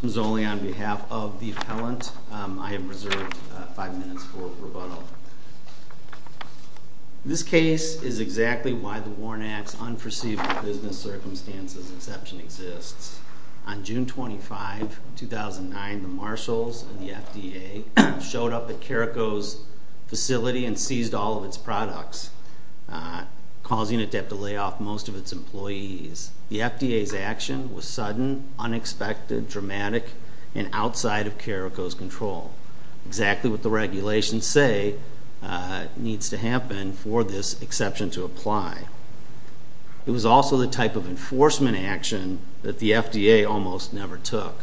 Mr. Mazzoli, on behalf of the appellant, I have reserved 5 minutes for rebuttal. This case is exactly why the Warren Act's unperceived business circumstances exception exists. On June 25, 2009, the marshals of the FDA showed up at Caraco's facility and seized all of its products, causing it to have to lay off most of its employees. The FDA's action was sudden, unexpected, dramatic, and outside of Caraco's control. Exactly what the regulations say needs to happen for this exception to apply. It was also the type of enforcement action that the FDA almost never took.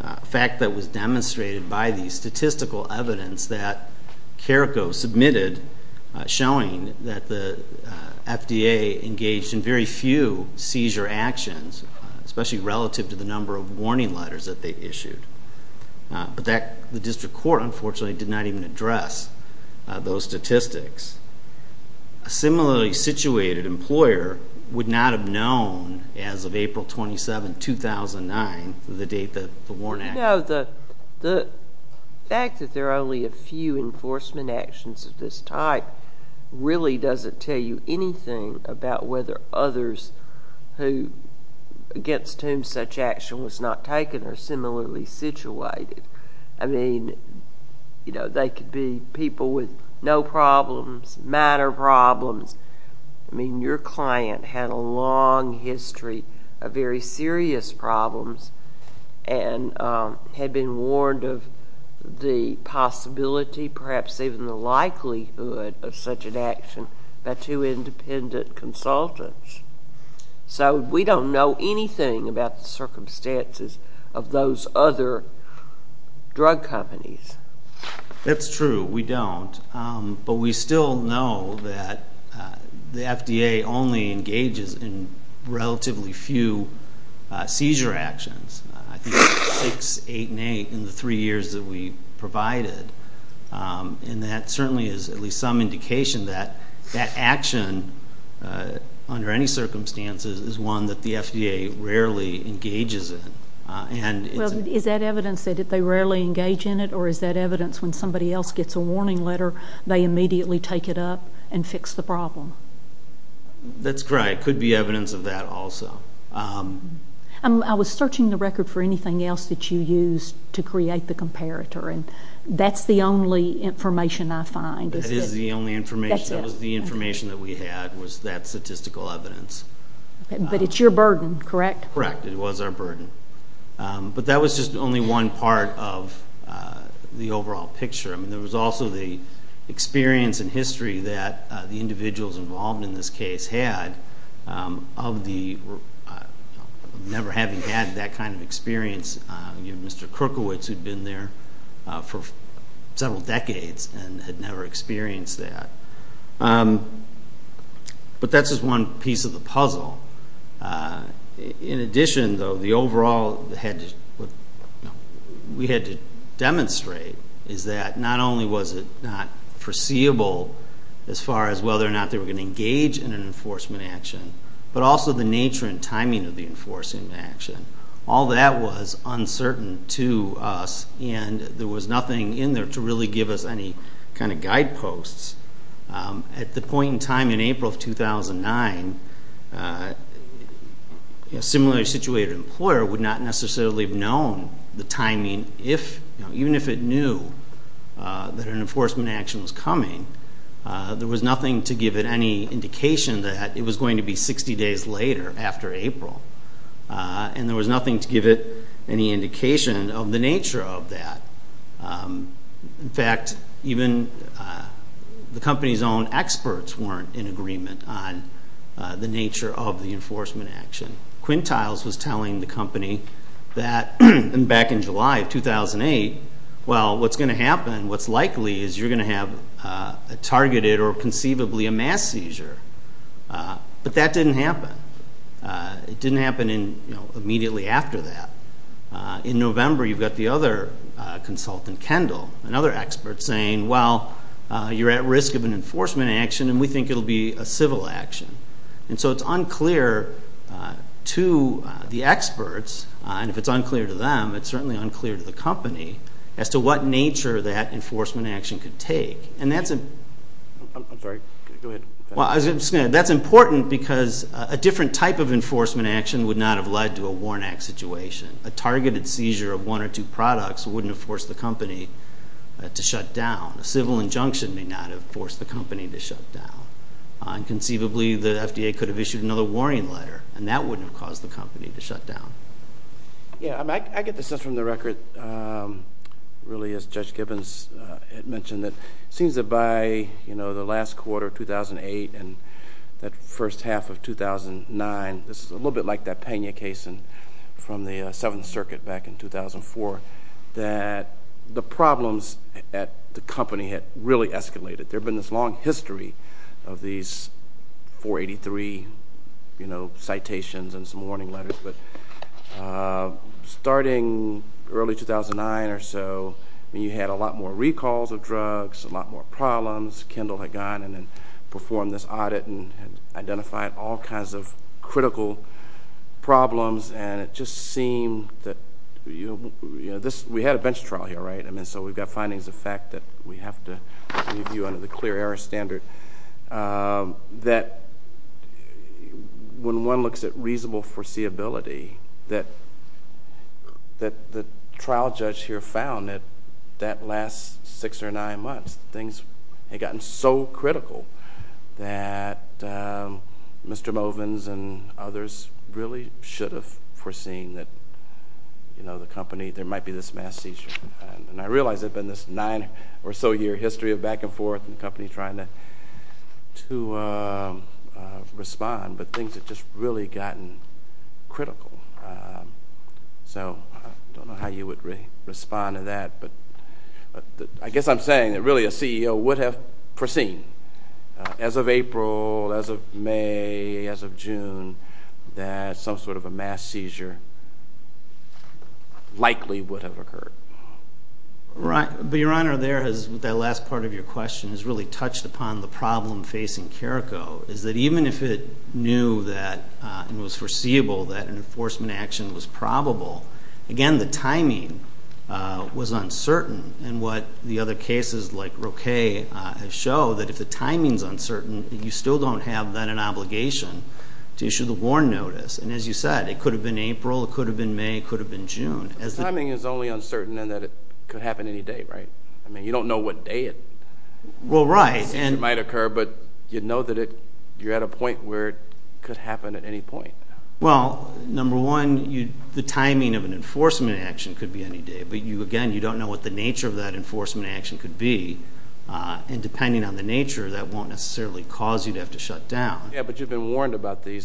A fact that was demonstrated by the statistical evidence that Caraco submitted showing that the FDA engaged in very few seizure actions, especially relative to the number of warning letters that they issued. But the district court, unfortunately, did not even address those statistics. A similarly situated employer would not have known, as of April 27, 2009, the date that the Warren Act was passed. No, the fact that there are only a few enforcement actions of this type really doesn't tell you anything about whether others against whom such action was not taken are similarly situated. I mean, they could be people with no problems, matter problems. I mean, your client had a long history of very serious problems and had been warned of the possibility, perhaps even the likelihood, of such an action by two independent consultants. So we don't know anything about the circumstances of those other drug companies. That's true. We don't. But we still know that the FDA only engages in relatively few seizure actions. I think six, eight, and eight in the three years that we provided. And that certainly is at least some indication that that action, under any circumstances, is one that the FDA rarely engages in. Well, is that evidence that they rarely engage in it? Or is that evidence when somebody else gets a warning letter, they immediately take it up and fix the problem? That's correct. It could be evidence of that also. I was searching the record for anything else that you used to create the comparator, and that's the only information I find, is it? That is the only information. That's it. That was the information that we had was that statistical evidence. But it's your burden, correct? Correct. It was our burden. But that was just only one part of the overall picture. I mean, there was also the experience and history that the individuals involved in this case had of never having had that kind of experience. Mr. Kerkowitz, who'd been there for several decades and had never experienced that. But that's just one piece of the puzzle. In addition, though, what we had to demonstrate is that not only was it not foreseeable as far as whether or not they were going to engage in an enforcement action, but also the nature and timing of the enforcement action. All that was uncertain to us, and there was nothing in there to really give us any kind of guideposts. At the point in time in April of 2009, a similarly situated employer would not necessarily have known the timing, even if it knew that an enforcement action was coming. There was nothing to give it any indication that it was going to be 60 days later after April, and there was nothing to give it any indication of the nature of that. In fact, even the company's own experts weren't in agreement on the nature of the enforcement action. Quintiles was telling the company that back in July of 2008, well, what's going to happen, what's likely is you're going to have a targeted or conceivably a mass seizure. But that didn't happen. It didn't happen immediately after that. In November, you've got the other consultant, Kendall, another expert, saying, well, you're at risk of an enforcement action, and we think it will be a civil action. And so it's unclear to the experts, and if it's unclear to them, it's certainly unclear to the company, as to what nature that enforcement action could take. And that's important because a different type of enforcement action would not have led to a Warnack situation. A targeted seizure of one or two products wouldn't have forced the company to shut down. A civil injunction may not have forced the company to shut down. And conceivably, the FDA could have issued another warning letter, and that wouldn't have caused the company to shut down. Yeah, I get the sense from the record, really, as Judge Gibbons had mentioned, that it seems that by the last quarter of 2008 and that first half of 2009, this is a little bit like that Pena case from the Seventh Circuit back in 2004, that the problems at the company had really escalated. There had been this long history of these 483, you know, citations and some warning letters. But starting early 2009 or so, you had a lot more recalls of drugs, a lot more problems. Kendall had gone and then performed this audit and had identified all kinds of critical problems. And it just seemed that, you know, we had a bench trial here, right? I mean, so we've got findings of fact that we have to review under the clear error standard, that when one looks at reasonable foreseeability, that the trial judge here found that that last six or nine months, things had gotten so critical that Mr. Movins and others really should have foreseen that, you know, the company, there might be this mass seizure. And I realize there had been this nine or so year history of back and forth and the company trying to respond, but things had just really gotten critical. So I don't know how you would respond to that. But I guess I'm saying that really a CEO would have foreseen, as of April, as of May, as of June, that some sort of a mass seizure likely would have occurred. But, Your Honor, there, that last part of your question has really touched upon the problem facing Carrico, is that even if it knew that it was foreseeable that an enforcement action was probable, again, the timing was uncertain. And what the other cases like Roquet have shown, that if the timing is uncertain, you still don't have then an obligation to issue the warn notice. And as you said, it could have been April, it could have been May, it could have been June. The timing is only uncertain in that it could happen any day, right? I mean, you don't know what day it might occur, but you know that you're at a point where it could happen at any point. Well, number one, the timing of an enforcement action could be any day. But, again, you don't know what the nature of that enforcement action could be. And depending on the nature, that won't necessarily cause you to have to shut down. Yeah, but you've been warned about the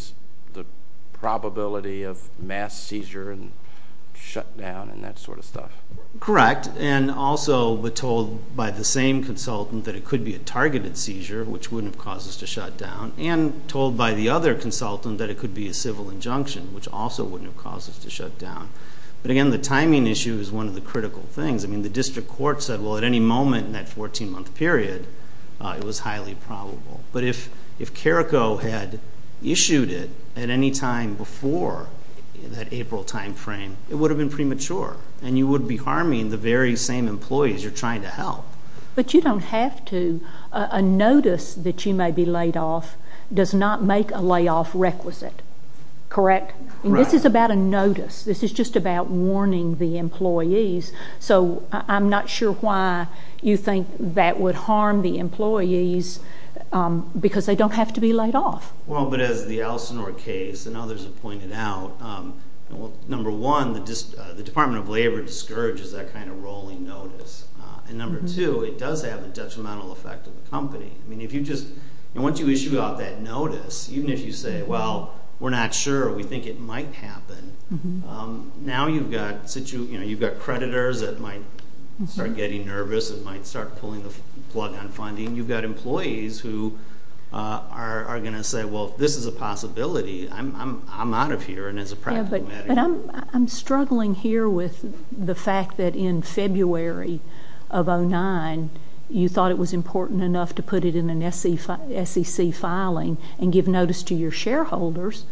probability of mass seizure and shutdown and that sort of stuff. Correct. And also we're told by the same consultant that it could be a targeted seizure, which wouldn't have caused us to shut down, and told by the other consultant that it could be a civil injunction, which also wouldn't have caused us to shut down. But, again, the timing issue is one of the critical things. I mean, the district court said, well, at any moment in that 14-month period, it was highly probable. But if CARICO had issued it at any time before that April time frame, it would have been premature, and you would be harming the very same employees you're trying to help. But you don't have to. A notice that you may be laid off does not make a layoff requisite. Correct? Right. This is about a notice. This is just about warning the employees. So I'm not sure why you think that would harm the employees, because they don't have to be laid off. Well, but as the Allison-Orr case and others have pointed out, number one, the Department of Labor discourages that kind of rolling notice. And number two, it does have a detrimental effect on the company. I mean, once you issue out that notice, even if you say, well, we're not sure, we think it might happen, now you've got creditors that might start getting nervous and might start pulling the plug on funding. You've got employees who are going to say, well, if this is a possibility, I'm out of here, and it's a practical matter. But I'm struggling here with the fact that in February of 2009, you thought it was important enough to put it in an SEC filing and give notice to your shareholders,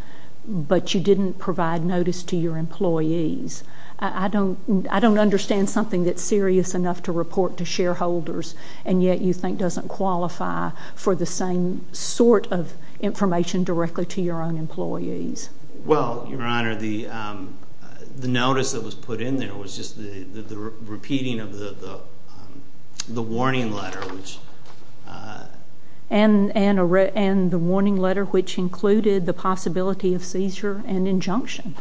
but you didn't provide notice to your employees. I don't understand something that's serious enough to report to shareholders, and yet you think doesn't qualify for the same sort of information directly to your own employees. Well, Your Honor, the notice that was put in there was just the repeating of the warning letter. And the warning letter which included the possibility of seizure and injunction.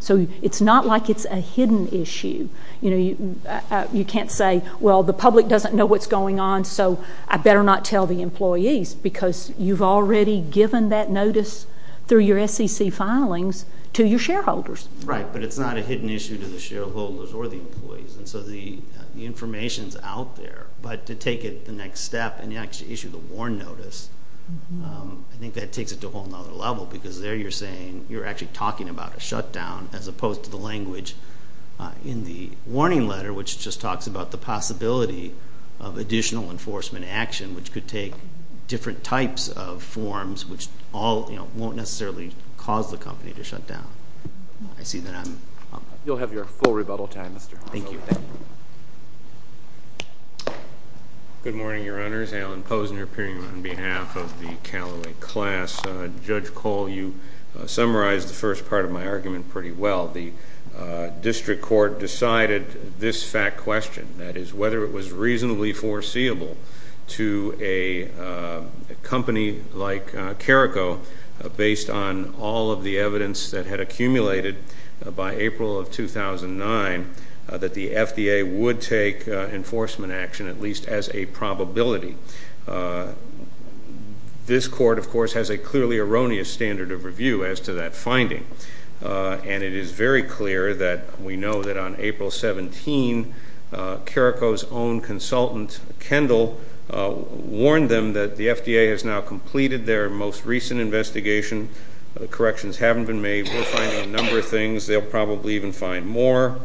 So it's not like it's a hidden issue. You can't say, well, the public doesn't know what's going on, so I better not tell the employees, because you've already given that notice through your SEC filings to your shareholders. Right, but it's not a hidden issue to the shareholders or the employees. And so the information is out there. But to take it the next step and actually issue the warn notice, I think that takes it to a whole other level, because there you're saying you're actually talking about a shutdown as opposed to the language in the warning letter, which just talks about the possibility of additional enforcement action, which could take different types of forms, which won't necessarily cause the company to shut down. I see that I'm up. You'll have your full rebuttal time, Mr. Hoffman. Thank you. Good morning, Your Honors. Alan Posner appearing on behalf of the Callaway class. Judge Cole, you summarized the first part of my argument pretty well. The district court decided this fact question, that is, whether it was reasonably foreseeable to a company like Carrico, based on all of the evidence that had accumulated by April of 2009, that the FDA would take enforcement action, at least as a probability. This court, of course, has a clearly erroneous standard of review as to that finding, and it is very clear that we know that on April 17, Carrico's own consultant, Kendall, warned them that the FDA has now completed their most recent investigation. The corrections haven't been made. We're finding a number of things. They'll probably even find more.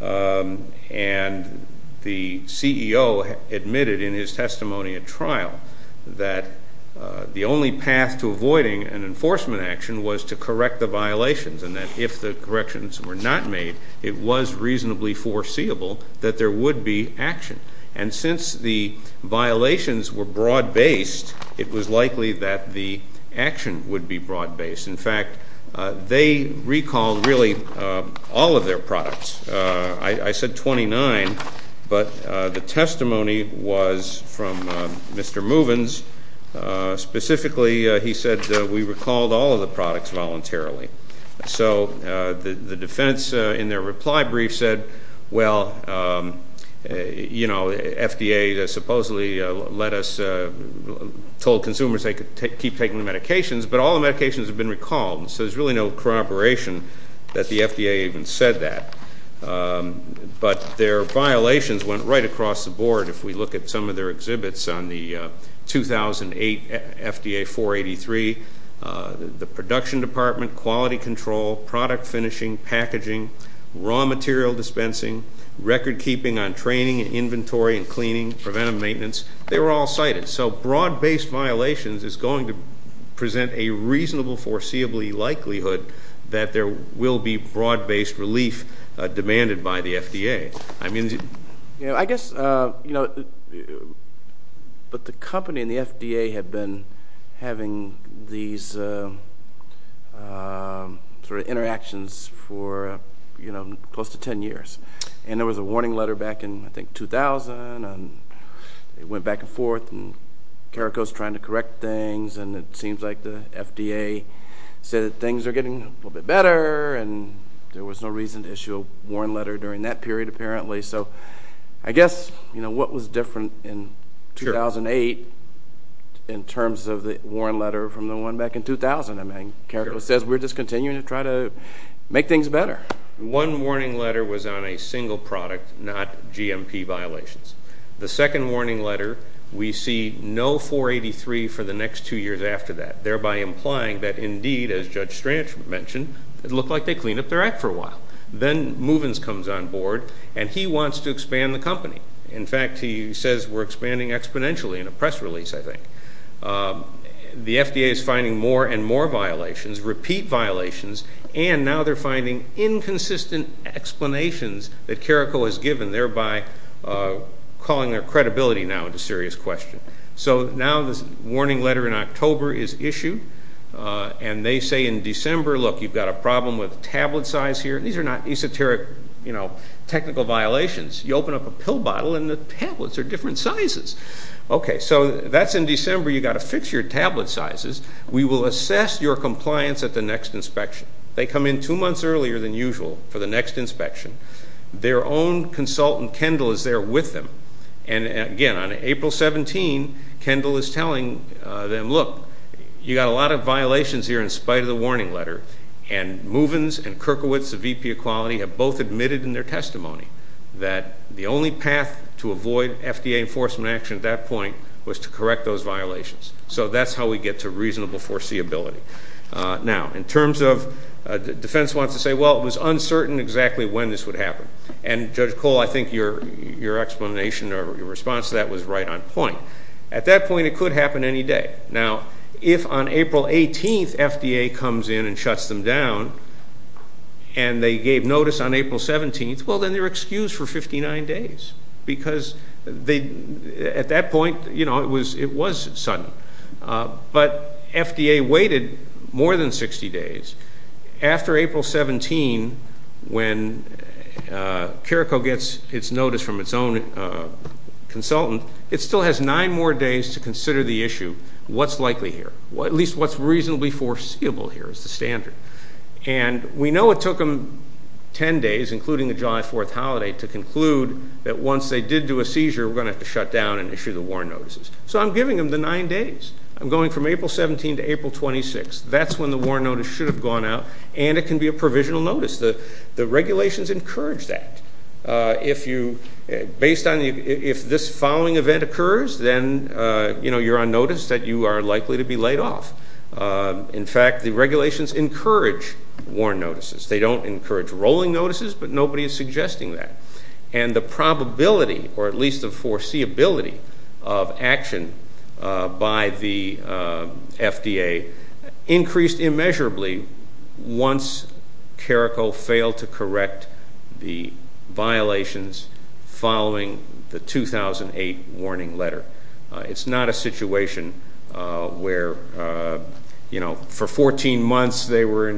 And the CEO admitted in his testimony at trial that the only path to avoiding an enforcement action was to correct the violations, and that if the corrections were not made, it was reasonably foreseeable that there would be action. And since the violations were broad-based, it was likely that the action would be broad-based. In fact, they recalled really all of their products. I said 29, but the testimony was from Mr. Movins. Specifically, he said, we recalled all of the products voluntarily. So the defense in their reply brief said, well, you know, FDA supposedly told consumers they could keep taking the medications, but all the medications have been recalled, so there's really no corroboration that the FDA even said that. But their violations went right across the board. If we look at some of their exhibits on the 2008 FDA 483, the production department, quality control, product finishing, packaging, raw material dispensing, record keeping on training and inventory and cleaning, preventative maintenance, they were all cited. So broad-based violations is going to present a reasonable foreseeable likelihood that there will be broad-based relief demanded by the FDA. I mean, you know, I guess, you know, but the company and the FDA have been having these sort of interactions for, you know, close to 10 years, and there was a warning letter back in, I think, 2000, and it went back and forth, and CARICO is trying to correct things, and it seems like the FDA said that things are getting a little bit better, and there was no reason to issue a warning letter during that period, apparently. So I guess, you know, what was different in 2008 in terms of the warning letter from the one back in 2000? I mean, CARICO says we're just continuing to try to make things better. One warning letter was on a single product, not GMP violations. The second warning letter, we see no 483 for the next two years after that, thereby implying that, indeed, as Judge Stranch mentioned, it looked like they cleaned up their act for a while. Then Muvins comes on board, and he wants to expand the company. In fact, he says we're expanding exponentially in a press release, I think. The FDA is finding more and more violations, repeat violations, and now they're finding inconsistent explanations that CARICO has given, thereby calling their credibility now into serious question. So now this warning letter in October is issued, and they say in December, look, you've got a problem with tablet size here. These are not esoteric, you know, technical violations. You open up a pill bottle, and the tablets are different sizes. Okay, so that's in December. You've got to fix your tablet sizes. We will assess your compliance at the next inspection. They come in two months earlier than usual for the next inspection. Their own consultant, Kendall, is there with them. And, again, on April 17, Kendall is telling them, look, you've got a lot of violations here in spite of the warning letter, and Muvins and Kirkowitz of VP Equality have both admitted in their testimony that the only path to avoid FDA enforcement action at that point was to correct those violations. So that's how we get to reasonable foreseeability. Now, in terms of defense wants to say, well, it was uncertain exactly when this would happen. And, Judge Cole, I think your explanation or your response to that was right on point. At that point, it could happen any day. Now, if on April 18 FDA comes in and shuts them down and they gave notice on April 17, well, then they're excused for 59 days because at that point, you know, it was sudden. But FDA waited more than 60 days. After April 17, when Careco gets its notice from its own consultant, it still has nine more days to consider the issue, what's likely here, at least what's reasonably foreseeable here as the standard. And we know it took them 10 days, including the July 4th holiday, to conclude that once they did do a seizure, we're going to have to shut down and issue the warrant notices. So I'm giving them the nine days. I'm going from April 17 to April 26. That's when the warrant notice should have gone out, and it can be a provisional notice. The regulations encourage that. If this following event occurs, then, you know, you're on notice that you are likely to be laid off. In fact, the regulations encourage warrant notices. They don't encourage rolling notices, but nobody is suggesting that. And the probability, or at least the foreseeability, of action by the FDA increased immeasurably once Careco failed to correct the violations following the 2008 warning letter. It's not a situation where, you know, for 14 months they were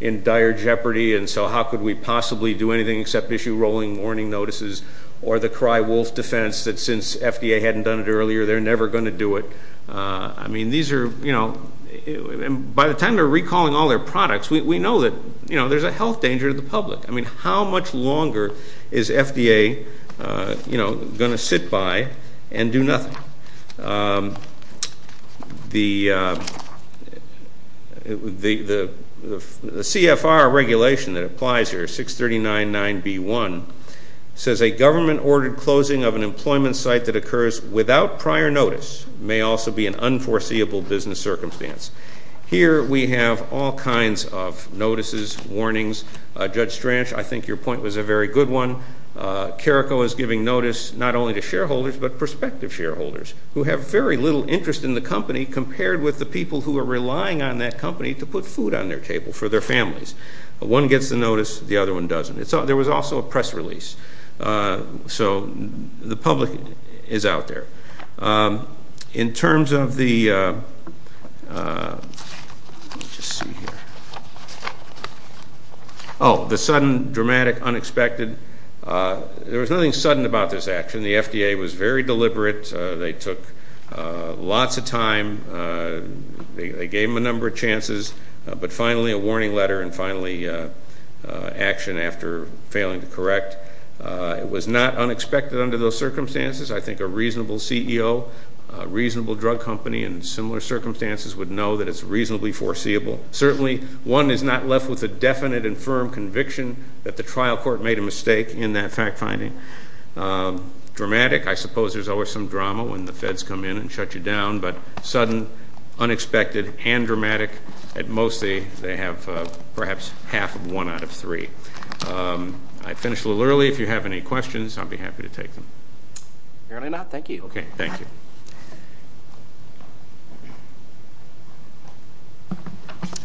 in dire jeopardy, and so how could we possibly do anything except issue rolling warning notices or the cry wolf defense that since FDA hadn't done it earlier, they're never going to do it. I mean, these are, you know, by the time they're recalling all their products, we know that, you know, there's a health danger to the public. I mean, how much longer is FDA, you know, going to sit by and do nothing? The CFR regulation that applies here, 639.9b.1, says, a government-ordered closing of an employment site that occurs without prior notice may also be an unforeseeable business circumstance. Here we have all kinds of notices, warnings. Judge Stranch, I think your point was a very good one. Careco is giving notice not only to shareholders but prospective shareholders who have very little interest in the company compared with the people who are relying on that company to put food on their table for their families. One gets the notice, the other one doesn't. There was also a press release, so the public is out there. In terms of the sudden, dramatic, unexpected, there was nothing sudden about this action. The FDA was very deliberate. They took lots of time. They gave them a number of chances, but finally a warning letter and finally action after failing to correct. It was not unexpected under those circumstances. I think a reasonable CEO, a reasonable drug company in similar circumstances would know that it's reasonably foreseeable. Certainly one is not left with a definite and firm conviction that the trial court made a mistake in that fact finding. Dramatic, I suppose there's always some drama when the feds come in and shut you down, but sudden, unexpected, and dramatic, at most they have perhaps half of one out of three. I finished a little early. If you have any questions, I'd be happy to take them. Apparently not. Thank you. Okay. Thank you.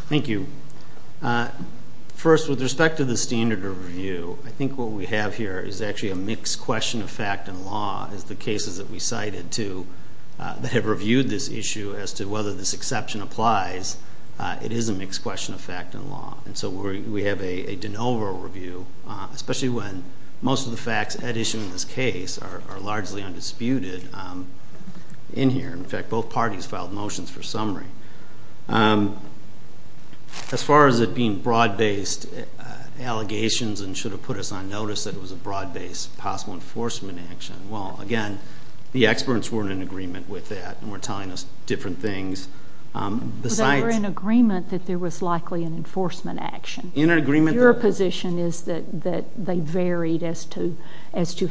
Thank you. First, with respect to the standard review, I think what we have here is actually a mixed question of fact and law, as the cases that we cited too that have reviewed this issue as to whether this exception applies. It is a mixed question of fact and law. And so we have a de novo review, especially when most of the facts at issue in this case are largely undisputed in here. In fact, both parties filed motions for summary. As far as it being broad-based allegations and should have put us on notice that it was a broad-based possible enforcement action, well, again, the experts weren't in agreement with that and weren't telling us different things besides. They were in agreement that there was likely an enforcement action. Your position is that they varied as to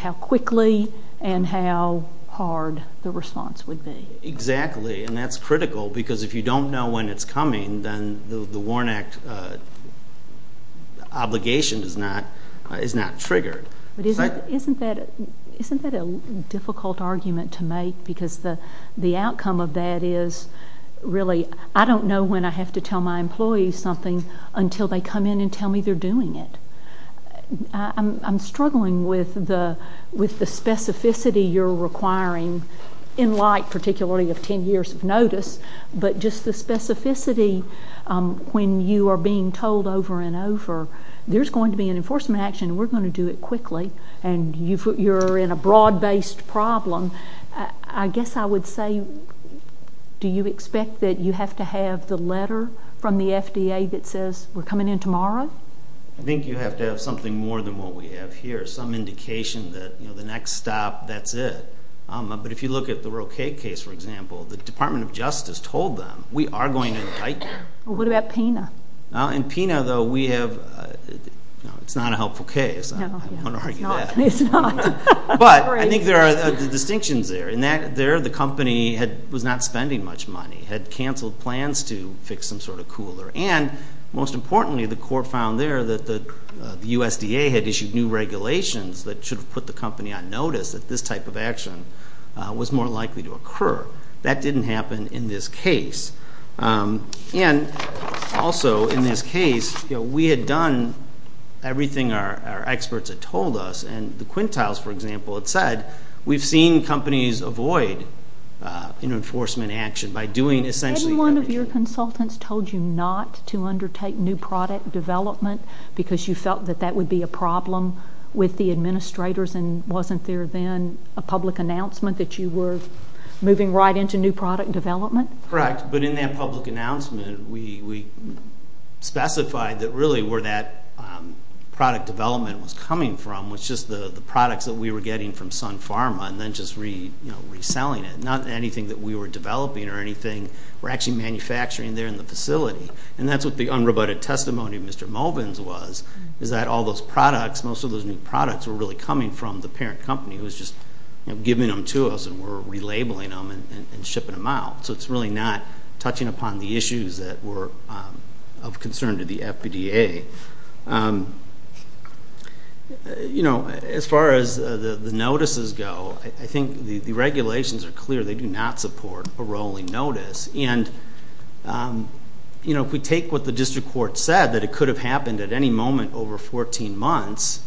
how quickly and how hard the response would be. Exactly. And that's critical because if you don't know when it's coming, then the WARN Act obligation is not triggered. Isn't that a difficult argument to make because the outcome of that is really I don't know when I have to tell my employees something until they come in and tell me they're doing it. I'm struggling with the specificity you're requiring, in light particularly of 10 years of notice, but just the specificity when you are being told over and over there's going to be an enforcement action and we're going to do it quickly and you're in a broad-based problem. I guess I would say do you expect that you have to have the letter from the FDA that says we're coming in tomorrow? I think you have to have something more than what we have here, some indication that the next stop, that's it. But if you look at the Roque case, for example, the Department of Justice told them we are going to indict them. What about PINA? In PINA, though, it's not a helpful case. I don't want to argue that. But I think there are distinctions there. There the company was not spending much money, had canceled plans to fix some sort of cooler, and most importantly the court found there that the USDA had issued new regulations that should have put the company on notice that this type of action was more likely to occur. That didn't happen in this case. And also in this case we had done everything our experts had told us and the quintiles, for example, had said, we've seen companies avoid enforcement action by doing essentially Didn't one of your consultants told you not to undertake new product development because you felt that that would be a problem with the administrators and wasn't there then a public announcement that you were moving right into new product development? Correct. But in that public announcement we specified that really where that product development was coming from was just the products that we were getting from Sun Pharma and then just reselling it, not anything that we were developing or anything we're actually manufacturing there in the facility. And that's what the unrebutted testimony of Mr. Mulvins was, is that all those products, most of those new products, were really coming from the parent company who was just giving them to us and we're relabeling them and shipping them out. So it's really not touching upon the issues that were of concern to the As far as the notices go, I think the regulations are clear. They do not support a rolling notice. And if we take what the district court said, that it could have happened at any moment over 14 months,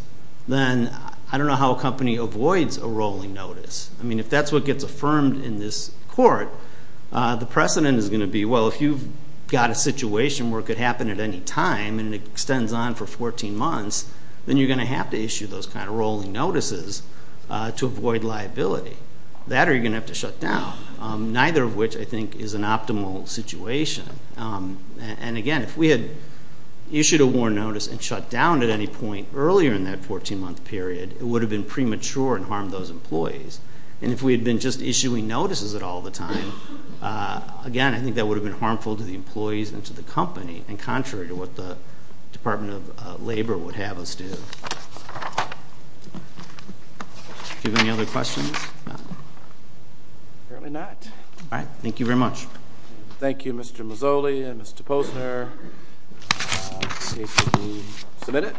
then I don't know how a company avoids a rolling notice. I mean, if that's what gets affirmed in this court, the precedent is going to be, well, if you've got a situation where it could happen at any time and it extends on for 14 months, then you're going to have to issue those kind of rolling notices to avoid liability. That or you're going to have to shut down, neither of which I think is an optimal situation. And, again, if we had issued a warrant notice and shut down at any point earlier in that 14-month period, it would have been premature and harmed those employees. And if we had been just issuing notices at all the time, again, I think that would have been harmful to the employees and to the company, and contrary to what the Department of Labor would have us do. Do you have any other questions? Apparently not. All right. Thank you very much. Thank you, Mr. Mazzoli and Mr. Posner. This case will be submitted.